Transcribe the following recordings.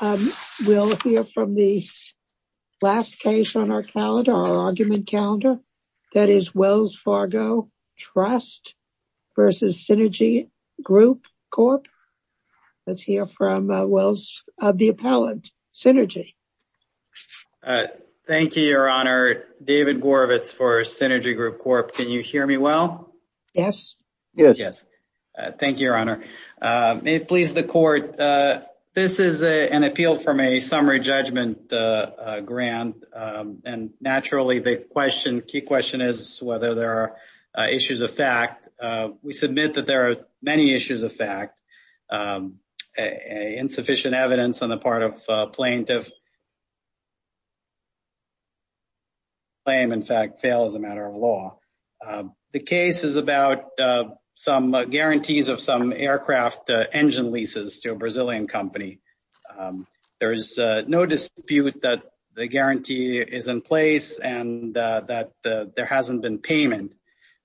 We'll hear from the last case on our calendar, our argument calendar, that is Wells Fargo Trust v. Synergy Group Corp. Let's hear from the appellant, Synergy. Thank you, Your Honor. David Gorovitz for Synergy Group Corp. Can you hear me well? Yes. Thank you, Your Honor. May it please the court, this is an appeal from a summary judgment grant. And naturally the question, key question is whether there are issues of fact. We submit that there are many issues of fact. Insufficient evidence on the part of plaintiff claim, in fact, fail as a matter of law. The case is about some guarantees of some aircraft engine leases to a Brazilian company. There is no dispute that the guarantee is in place and that there hasn't been payment.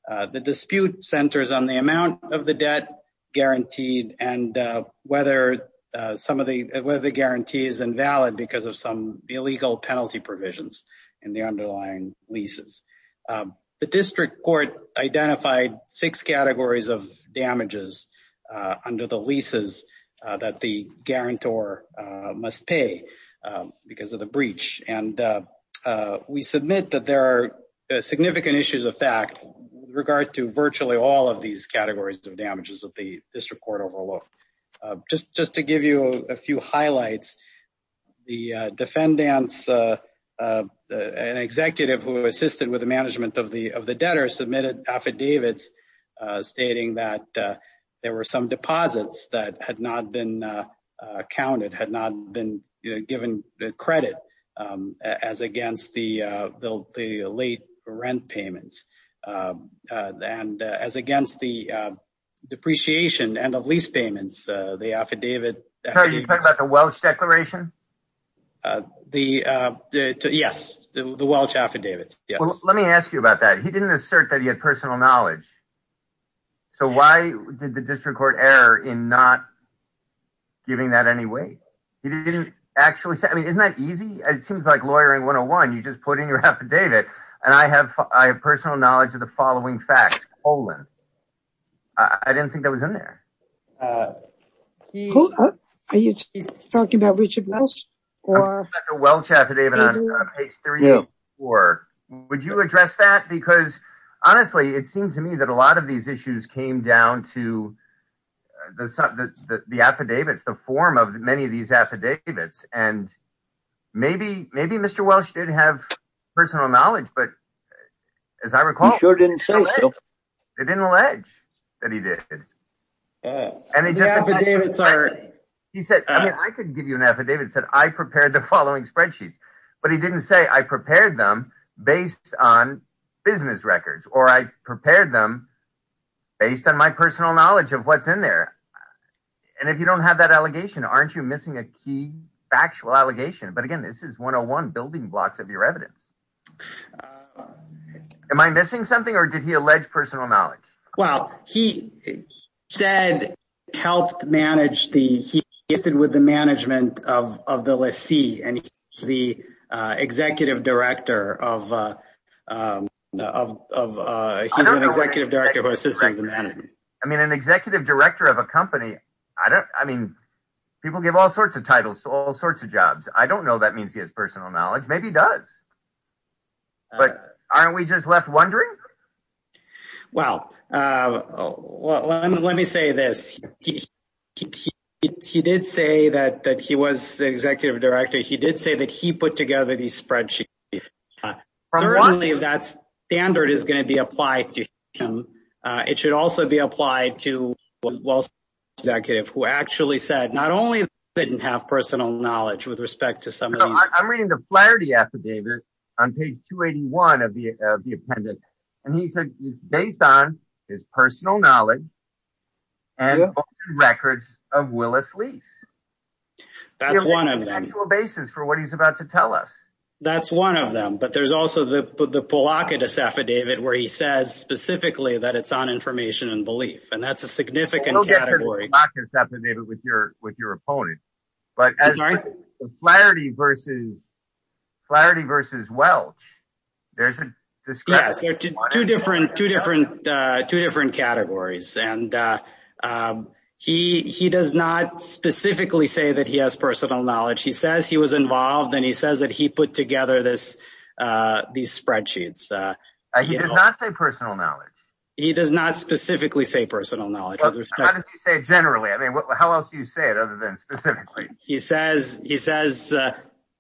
The dispute centers on the amount of the debt guaranteed and whether some of the whether the guarantee is invalid because of some illegal penalty provisions in the underlying leases. The district court identified six categories of damages under the leases that the guarantor must pay because of the breach. And we submit that there are significant issues of fact with regard to virtually all of these categories of damages that the district court overlooked. Just to give you a few highlights, the defendants, an executive who assisted with the management of the debtor submitted affidavits stating that there were some deposits that had not been counted, that had not been given credit as against the late rent payments and as against the depreciation and of lease payments, the affidavit. Are you talking about the Welch declaration? The yes, the Welch affidavits. Let me ask you about that. He didn't assert that he had personal knowledge. So why did the district court error in not giving that any weight? He didn't actually say, I mean, isn't that easy? It seems like lawyering 101. You just put in your affidavit. And I have I have personal knowledge of the following facts. I didn't think that was in there. Are you talking about Richard Welch? The Welch affidavit on page three or four. Would you address that? Because honestly, it seems to me that a lot of these issues came down to the affidavits, the form of many of these affidavits. And maybe maybe Mr. Welch did have personal knowledge. But as I recall, it didn't allege that he did. And it just started. He said, I mean, I could give you an affidavit, said I prepared the following spreadsheets. But he didn't say I prepared them based on business records or I prepared them based on my personal knowledge of what's in there. And if you don't have that allegation, aren't you missing a key factual allegation? But again, this is one of one building blocks of your evidence. Am I missing something or did he allege personal knowledge? Well, he said he helped manage the he did with the management of the lessee and the executive director of an executive director who assisted the management. I mean, an executive director of a company. I don't I mean, people give all sorts of titles to all sorts of jobs. I don't know. That means he has personal knowledge. Maybe he does. But aren't we just left wondering? Well, let me say this. He did say that that he was the executive director. He did say that he put together these spreadsheets. That's standard is going to be applied to him. It should also be applied to. Who actually said not only didn't have personal knowledge with respect to some of these. I'm reading the Flaherty affidavit on page 281 of the appendix. And he said based on his personal knowledge. And records of Willis Lease. That's one of the actual basis for what he's about to tell us. That's one of them. But there's also the blockade affidavit where he says specifically that it's on information and belief. And that's a significant category. With your with your opponent. But Flaherty versus Flaherty versus Welch. There's two different two different two different categories. And he he does not specifically say that he has personal knowledge. He says he was involved and he says that he put together this these spreadsheets. He does not say personal knowledge. He does not specifically say personal knowledge. How does he say generally? I mean, how else do you say it other than specifically? He says he says,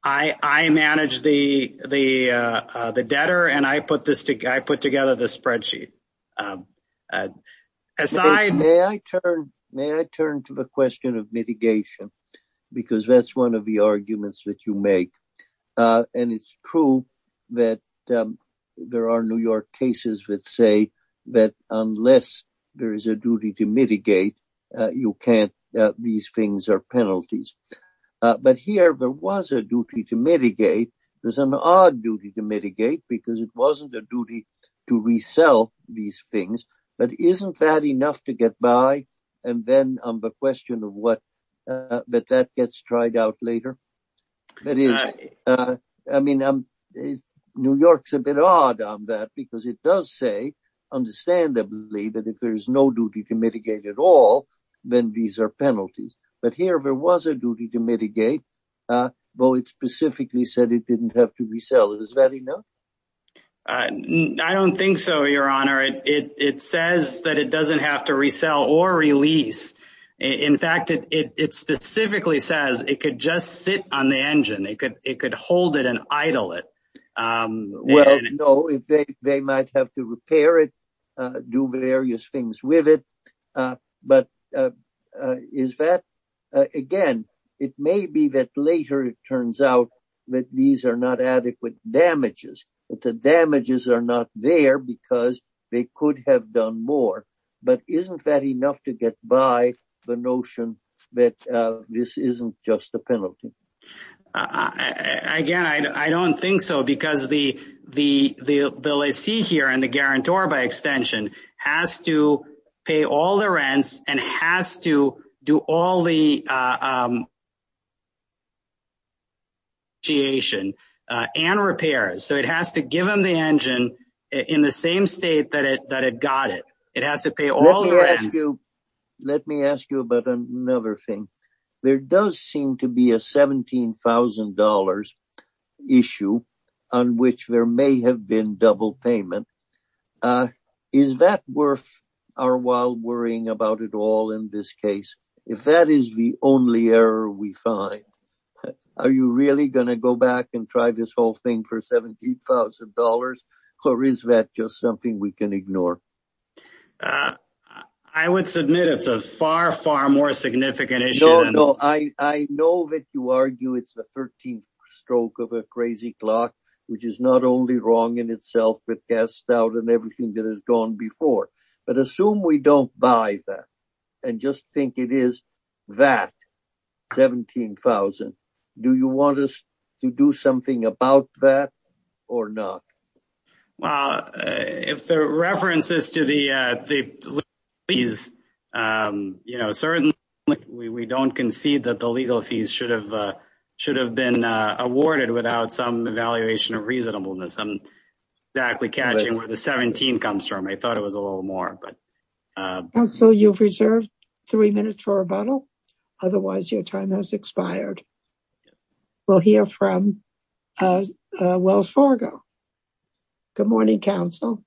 I manage the the debtor and I put this together. I put together this spreadsheet. May I turn to the question of mitigation? Because that's one of the arguments that you make. And it's true that there are New York cases that say that unless there is a duty to mitigate, you can't. These things are penalties. But here there was a duty to mitigate. There's an odd duty to mitigate because it wasn't a duty to resell these things. But isn't that enough to get by? And then the question of what that that gets tried out later. That is, I mean, New York's a bit odd on that because it does say understandably that if there is no duty to mitigate at all, then these are penalties. But here there was a duty to mitigate. Well, it specifically said it didn't have to resell it. Is that enough? I don't think so, Your Honor. It says that it doesn't have to resell or release. In fact, it specifically says it could just sit on the engine. It could it could hold it and idle it. Well, no. They might have to repair it, do various things with it. But is that again? It may be that later it turns out that these are not adequate damages, that the damages are not there because they could have done more. But isn't that enough to get by the notion that this isn't just a penalty? Again, I don't think so, because the the bill I see here and the guarantor by extension has to pay all the rents and has to do all the. Giation and repairs. So it has to give them the engine in the same state that it that it got it. It has to pay all. Let me ask you about another thing. There does seem to be a $17,000 issue on which there may have been double payment. Is that worth our while worrying about it all in this case? If that is the only error we find, are you really going to go back and try this whole thing for $17,000? Or is that just something we can ignore? I would submit it's a far, far more significant issue. No, no. I know that you argue it's the 13th stroke of a crazy clock, which is not only wrong in itself, but cast out and everything that has gone before. But assume we don't buy that and just think it is that $17,000. Do you want us to do something about that or not? Well, if the references to the fees, you know, certainly we don't concede that the legal fees should have should have been awarded without some evaluation of reasonableness. I'm exactly catching where the 17 comes from. I thought it was a little more. But so you've reserved three minutes for a bottle. Otherwise, your time has expired. We'll hear from Wells Fargo. Good morning, counsel.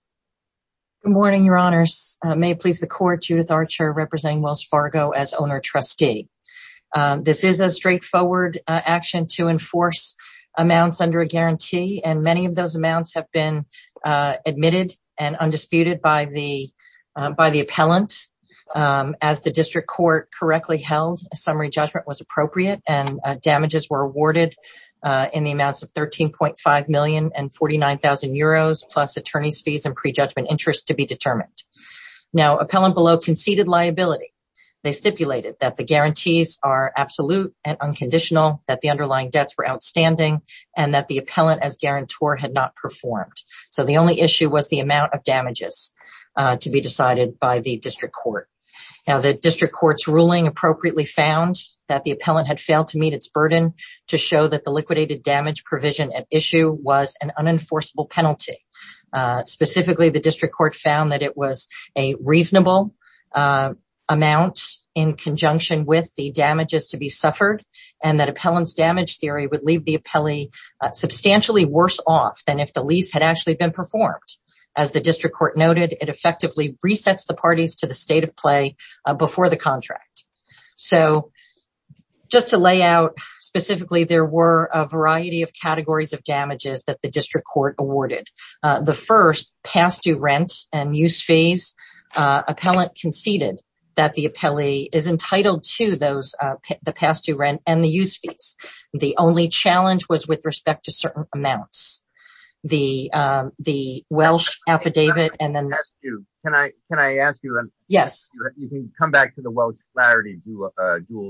Good morning, your honors. May it please the court. Judith Archer representing Wells Fargo as owner trustee. This is a straightforward action to enforce amounts under a guarantee, and many of those amounts have been admitted and undisputed by the by the appellant. As the district court correctly held, a summary judgment was appropriate and damages were awarded in the amounts of 13.5 million and 49,000 euros plus attorney's fees and prejudgment interest to be determined. Now, appellant below conceded liability. They stipulated that the guarantees are absolute and unconditional, that the underlying debts were outstanding and that the appellant as guarantor had not performed. So the only issue was the amount of damages to be decided by the district court. Now, the district court's ruling appropriately found that the appellant had failed to meet its burden to show that the liquidated damage provision at issue was an unenforceable penalty. Specifically, the district court found that it was a reasonable amount in conjunction with the damages to be suffered and that appellant's damage theory would leave the appellee substantially worse off than if the lease had actually been performed. As the district court noted, it effectively resets the parties to the state of play before the contract. So, just to lay out, specifically, there were a variety of categories of damages that the district court awarded. The first, past due rent and use fees. Appellant conceded that the appellee is entitled to the past due rent and the use fees. The only challenge was with respect to certain amounts. The Welsh affidavit and then... Can I ask you? Yes. You can come back to the Welsh clarity duel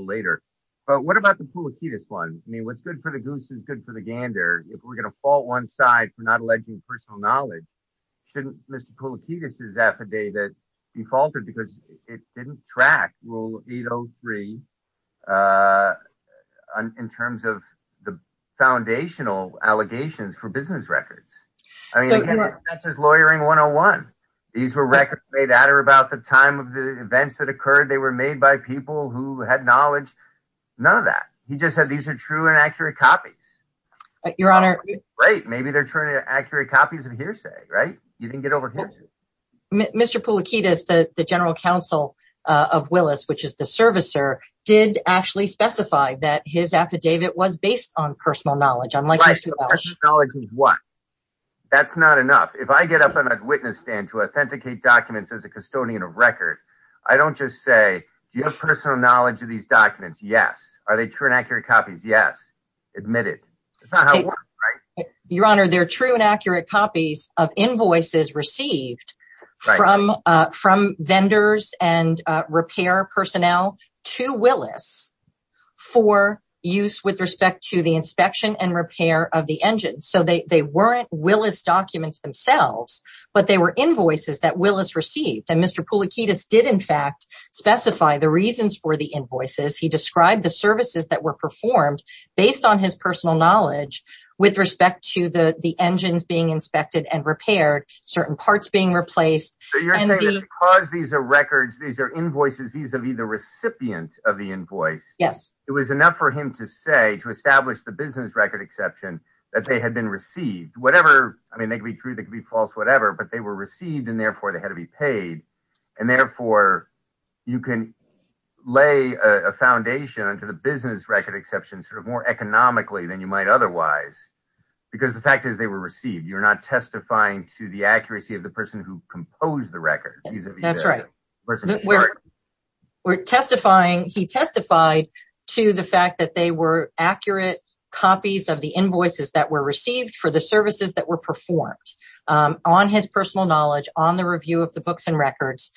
later. But what about the Pulikides one? I mean, what's good for the goose is good for the gander. If we're going to fault one side for not alleging personal knowledge, shouldn't Mr. Pulikides' affidavit be faltered because it didn't track Rule 803? In terms of the foundational allegations for business records. I mean, that's just Lawyering 101. These were records made at or about the time of the events that occurred. They were made by people who had knowledge. None of that. He just said these are true and accurate copies. Your Honor... Right, maybe they're true and accurate copies of hearsay, right? You didn't get overheard. Mr. Pulikides, the general counsel of Willis, which is the servicer, did actually specify that his affidavit was based on personal knowledge. Unlike Mr. Welsh. Personal knowledge means what? That's not enough. If I get up on a witness stand to authenticate documents as a custodian of record, I don't just say, do you have personal knowledge of these documents? Yes. Are they true and accurate copies? Yes. Admit it. That's not how it works, right? Your Honor, they're true and accurate copies of invoices received from vendors and repair personnel to Willis for use with respect to the inspection and repair of the engine. So they weren't Willis documents themselves, but they were invoices that Willis received. And Mr. Pulikides did, in fact, specify the reasons for the invoices. He described the services that were performed based on his personal knowledge with respect to the engines being inspected and repaired, certain parts being replaced. So you're saying that because these are records, these are invoices, these would be the recipient of the invoice. Yes. It was enough for him to say, to establish the business record exception, that they had been received. I mean, they could be true, they could be false, whatever, but they were received and therefore they had to be paid. And therefore, you can lay a foundation to the business record exception sort of more economically than you might otherwise. Because the fact is they were received. You're not testifying to the accuracy of the person who composed the record. That's right. He testified to the fact that they were accurate copies of the invoices that were received for the services that were performed on his personal knowledge, on the review of the books and records.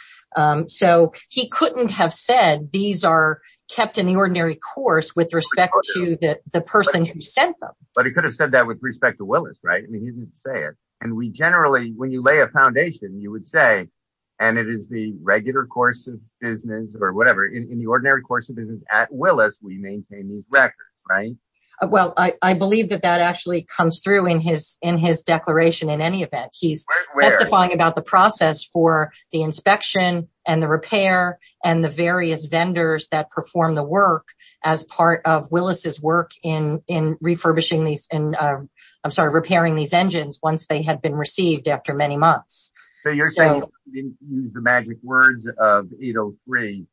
So he couldn't have said these are kept in the ordinary course with respect to the person who sent them. But he could have said that with respect to Willis, right? And we generally, when you lay a foundation, you would say, and it is the regular course of business or whatever, in the ordinary course of business at Willis, we maintain these records, right? Well, I believe that that actually comes through in his declaration in any event. He's testifying about the process for the inspection and the repair and the various vendors that perform the work as part of Willis' work in refurbishing these, I'm sorry, repairing these engines once they had been received after many months. So you're saying, using the magic words of 803,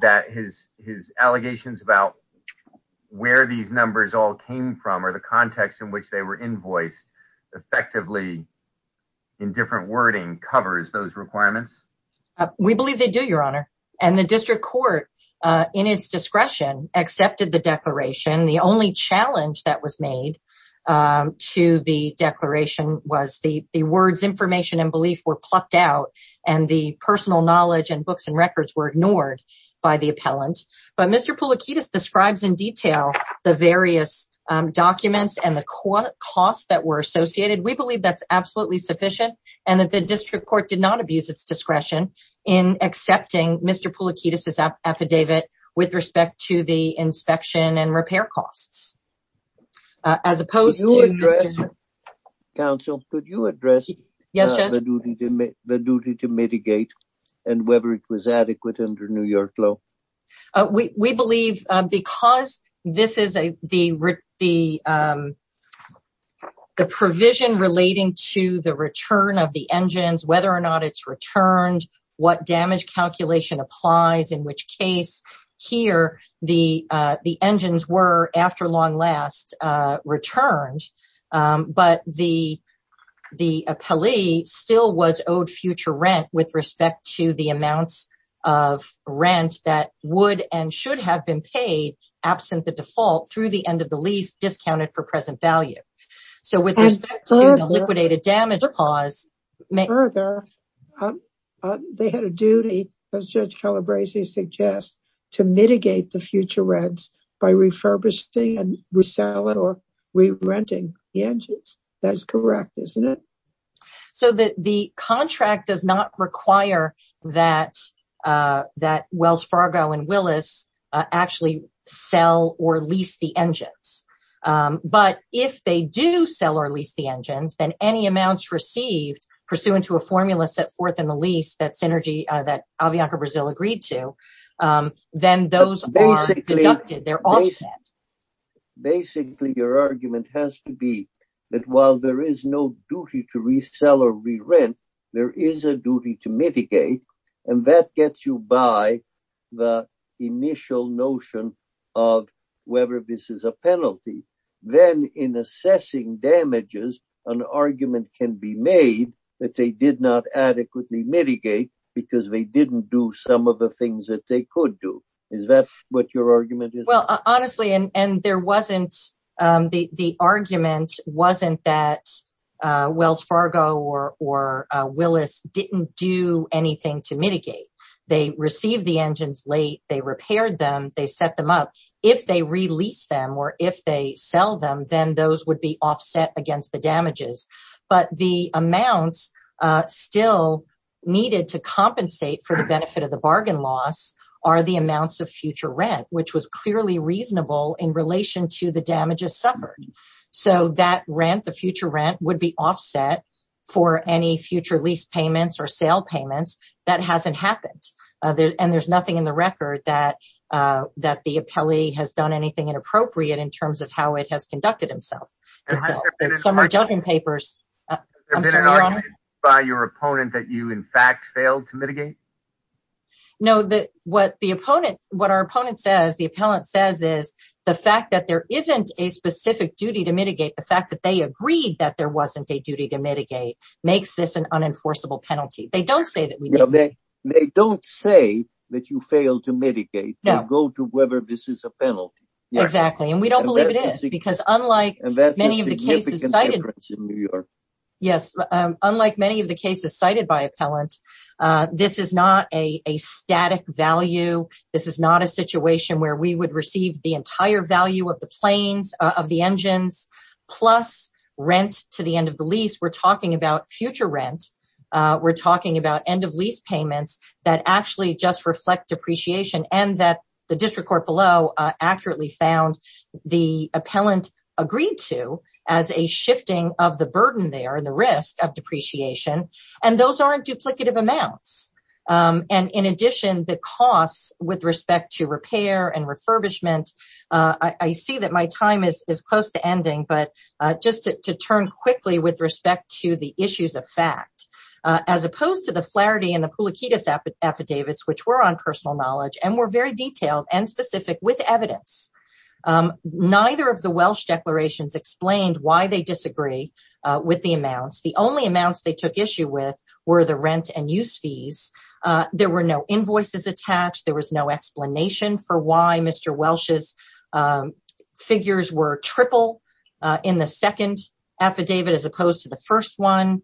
that his allegations about where these numbers all came from or the context in which they were invoiced effectively in different wording covers those requirements? We believe they do, Your Honor. And the district court, in its discretion, accepted the declaration. The only challenge that was made to the declaration was the words information and belief were plucked out and the personal knowledge and books and records were ignored by the appellant. But Mr. Poulakidis describes in detail the various documents and the costs that were associated. We believe that's absolutely sufficient and that the district court did not abuse its discretion in accepting Mr. Poulakidis' affidavit with respect to the inspection and repair costs. As opposed to... Counsel, could you address the duty to mitigate and whether it was adequate under New York law? We believe because this is the provision relating to the return of the engines, whether or not it's returned, what damage calculation applies, in which case, here, the engines were, after long last, returned. But the appellee still was owed future rent with respect to the amounts of rent that would and should have been paid absent the default through the end of the lease discounted for present value. Further, they had a duty, as Judge Calabresi suggests, to mitigate the future rents by refurbishing and reselling or re-renting the engines. That is correct, isn't it? So the contract does not require that Wells Fargo and Willis actually sell or lease the engines. But if they do sell or lease the engines, then any amounts received pursuant to a formula set forth in the lease that Synergy, that Avianca Brazil agreed to, then those are deducted, they're offset. Basically, your argument has to be that while there is no duty to resell or re-rent, there is a duty to mitigate, and that gets you by the initial notion of whether this is a penalty. Then in assessing damages, an argument can be made that they did not adequately mitigate because they didn't do some of the things that they could do. Is that what your argument is? Well, honestly, the argument wasn't that Wells Fargo or Willis didn't do anything to mitigate. They received the engines late, they repaired them, they set them up. If they release them or if they sell them, then those would be offset against the damages. But the amounts still needed to compensate for the benefit of the bargain loss are the amounts of future rent, which was clearly reasonable in relation to the damages suffered. So that rent, the future rent, would be offset for any future lease payments or sale payments. That hasn't happened. And there's nothing in the record that the appellee has done anything inappropriate in terms of how it has conducted itself. Has there been an argument by your opponent that you, in fact, failed to mitigate? No. What our opponent says, the appellant says, is the fact that there isn't a specific duty to mitigate, the fact that they agreed that there wasn't a duty to mitigate, makes this an unenforceable penalty. They don't say that we didn't. They don't say that you failed to mitigate. They go to whether this is a penalty. Exactly. And we don't believe it is. And that's a significant difference in New York. Yes. Unlike many of the cases cited by appellants, this is not a static value. This is not a situation where we would receive the entire value of the planes, of the engines, plus rent to the end of the lease. We're talking about future rent. We're talking about end of lease payments that actually just reflect depreciation and that the district court below accurately found the appellant agreed to as a shifting of the burden there and the risk of depreciation. And those aren't duplicative amounts. And in addition, the costs with respect to repair and refurbishment, I see that my time is close to ending, but just to turn quickly with respect to the issues of fact, as opposed to the Flaherty and the Pulikides affidavits, which were on personal knowledge and were very detailed and specific with evidence, neither of the Welsh declarations explained why they disagree with the amounts. The only amounts they took issue with were the rent and use fees. There were no invoices attached. There was no explanation for why Mr. Welsh's figures were triple in the second affidavit as opposed to the first one.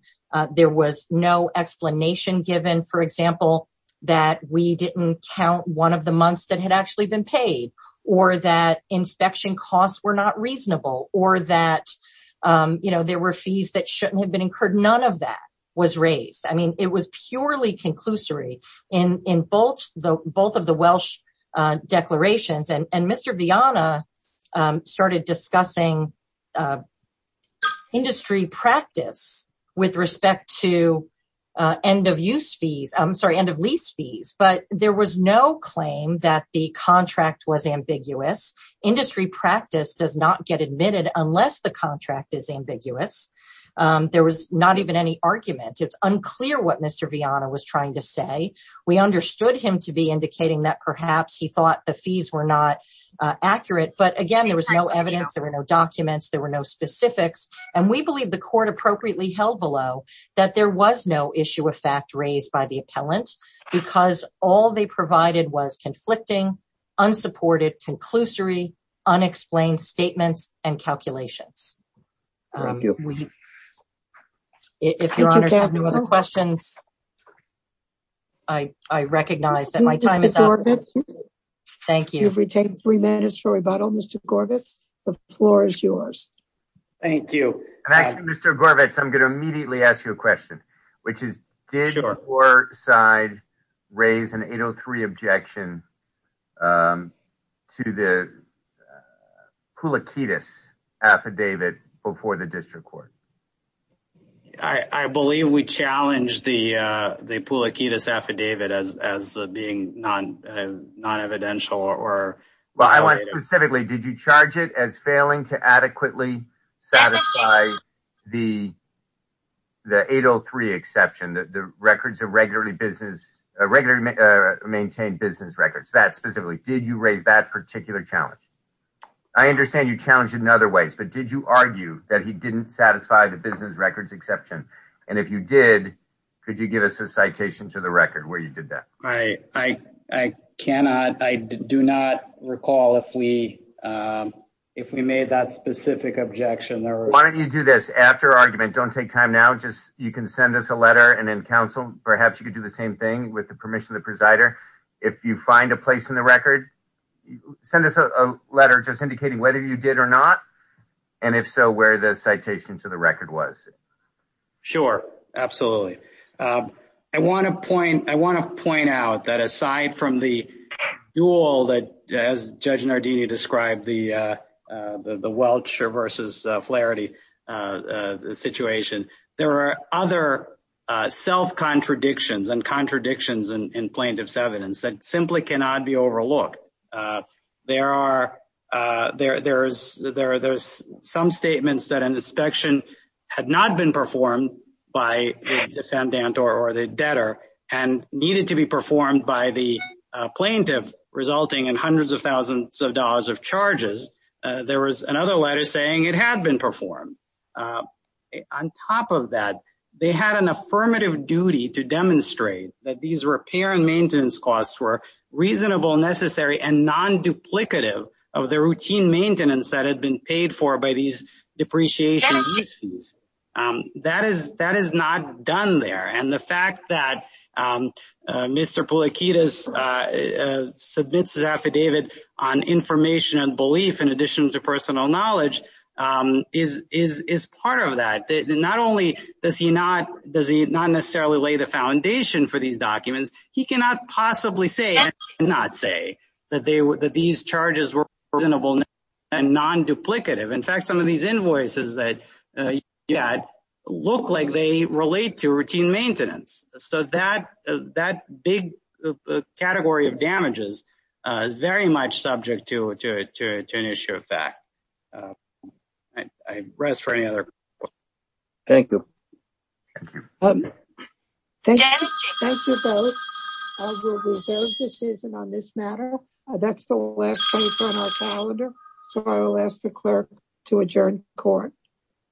There was no explanation given, for example, that we didn't count one of the months that had actually been paid or that inspection costs were not reasonable or that there were fees that shouldn't have been incurred. None of that was raised. I mean, it was purely conclusory in both of the Welsh declarations. And Mr. Vianna started discussing industry practice with respect to end of lease fees. But there was no claim that the contract was ambiguous. Industry practice does not get admitted unless the contract is ambiguous. There was not even any argument. It's unclear what Mr. Vianna was trying to say. We understood him to be indicating that perhaps he thought the fees were not accurate. But again, there was no evidence. There were no documents. There were no specifics. And we believe the court appropriately held below that there was no issue of fact raised by the appellant because all they provided was conflicting, unsupported, conclusory, unexplained statements and calculations. Thank you. If your honors have no other questions, I recognize that my time is up. Thank you. You've retained three minutes for rebuttal, Mr. Gorvitz. The floor is yours. Thank you. Mr. Gorvitz, I'm going to immediately ask you a question, which is, did your side raise an 803 objection to the Pulakitis affidavit before the district court? I believe we challenged the Pulakitis affidavit as being non-evidential. Specifically, did you charge it as failing to adequately satisfy the 803 exception, the records of regularly maintained business records, that specifically? Did you raise that particular challenge? I understand you challenged it in other ways, but did you argue that he didn't satisfy the business records exception? And if you did, could you give us a citation to the record where you did that? I cannot. I do not recall if we made that specific objection. Why don't you do this? After argument, don't take time now. You can send us a letter and then counsel. Perhaps you could do the same thing with the permission of the presider. If you find a place in the record, send us a letter just indicating whether you did or not, and if so, where the citation to the record was. Sure, absolutely. I want to point out that aside from the duel, as Judge Nardini described, the Welch versus Flaherty situation, there are other self-contradictions and contradictions in plaintiff's evidence that simply cannot be overlooked. There are some statements that an inspection had not been performed by the defendant or the debtor and needed to be performed by the plaintiff, resulting in hundreds of thousands of dollars of charges. There was another letter saying it had been performed. On top of that, they had an affirmative duty to demonstrate that these repair and maintenance costs were reasonable, necessary, and non-duplicative of the routine maintenance that had been paid for by these depreciation fees. That is not done there, and the fact that Mr. Pulikides submits his affidavit on information and belief in addition to personal knowledge is part of that. Not only does he not necessarily lay the foundation for these documents, he cannot possibly say that these charges were reasonable and non-duplicative. In fact, some of these invoices that you had look like they relate to routine maintenance. So that big category of damages is very much subject to an issue of fact. I rest for any other questions. Thank you. Thank you both. I will defer to Susan on this matter. That's the last case on our calendar, so I will ask the clerk to adjourn the court.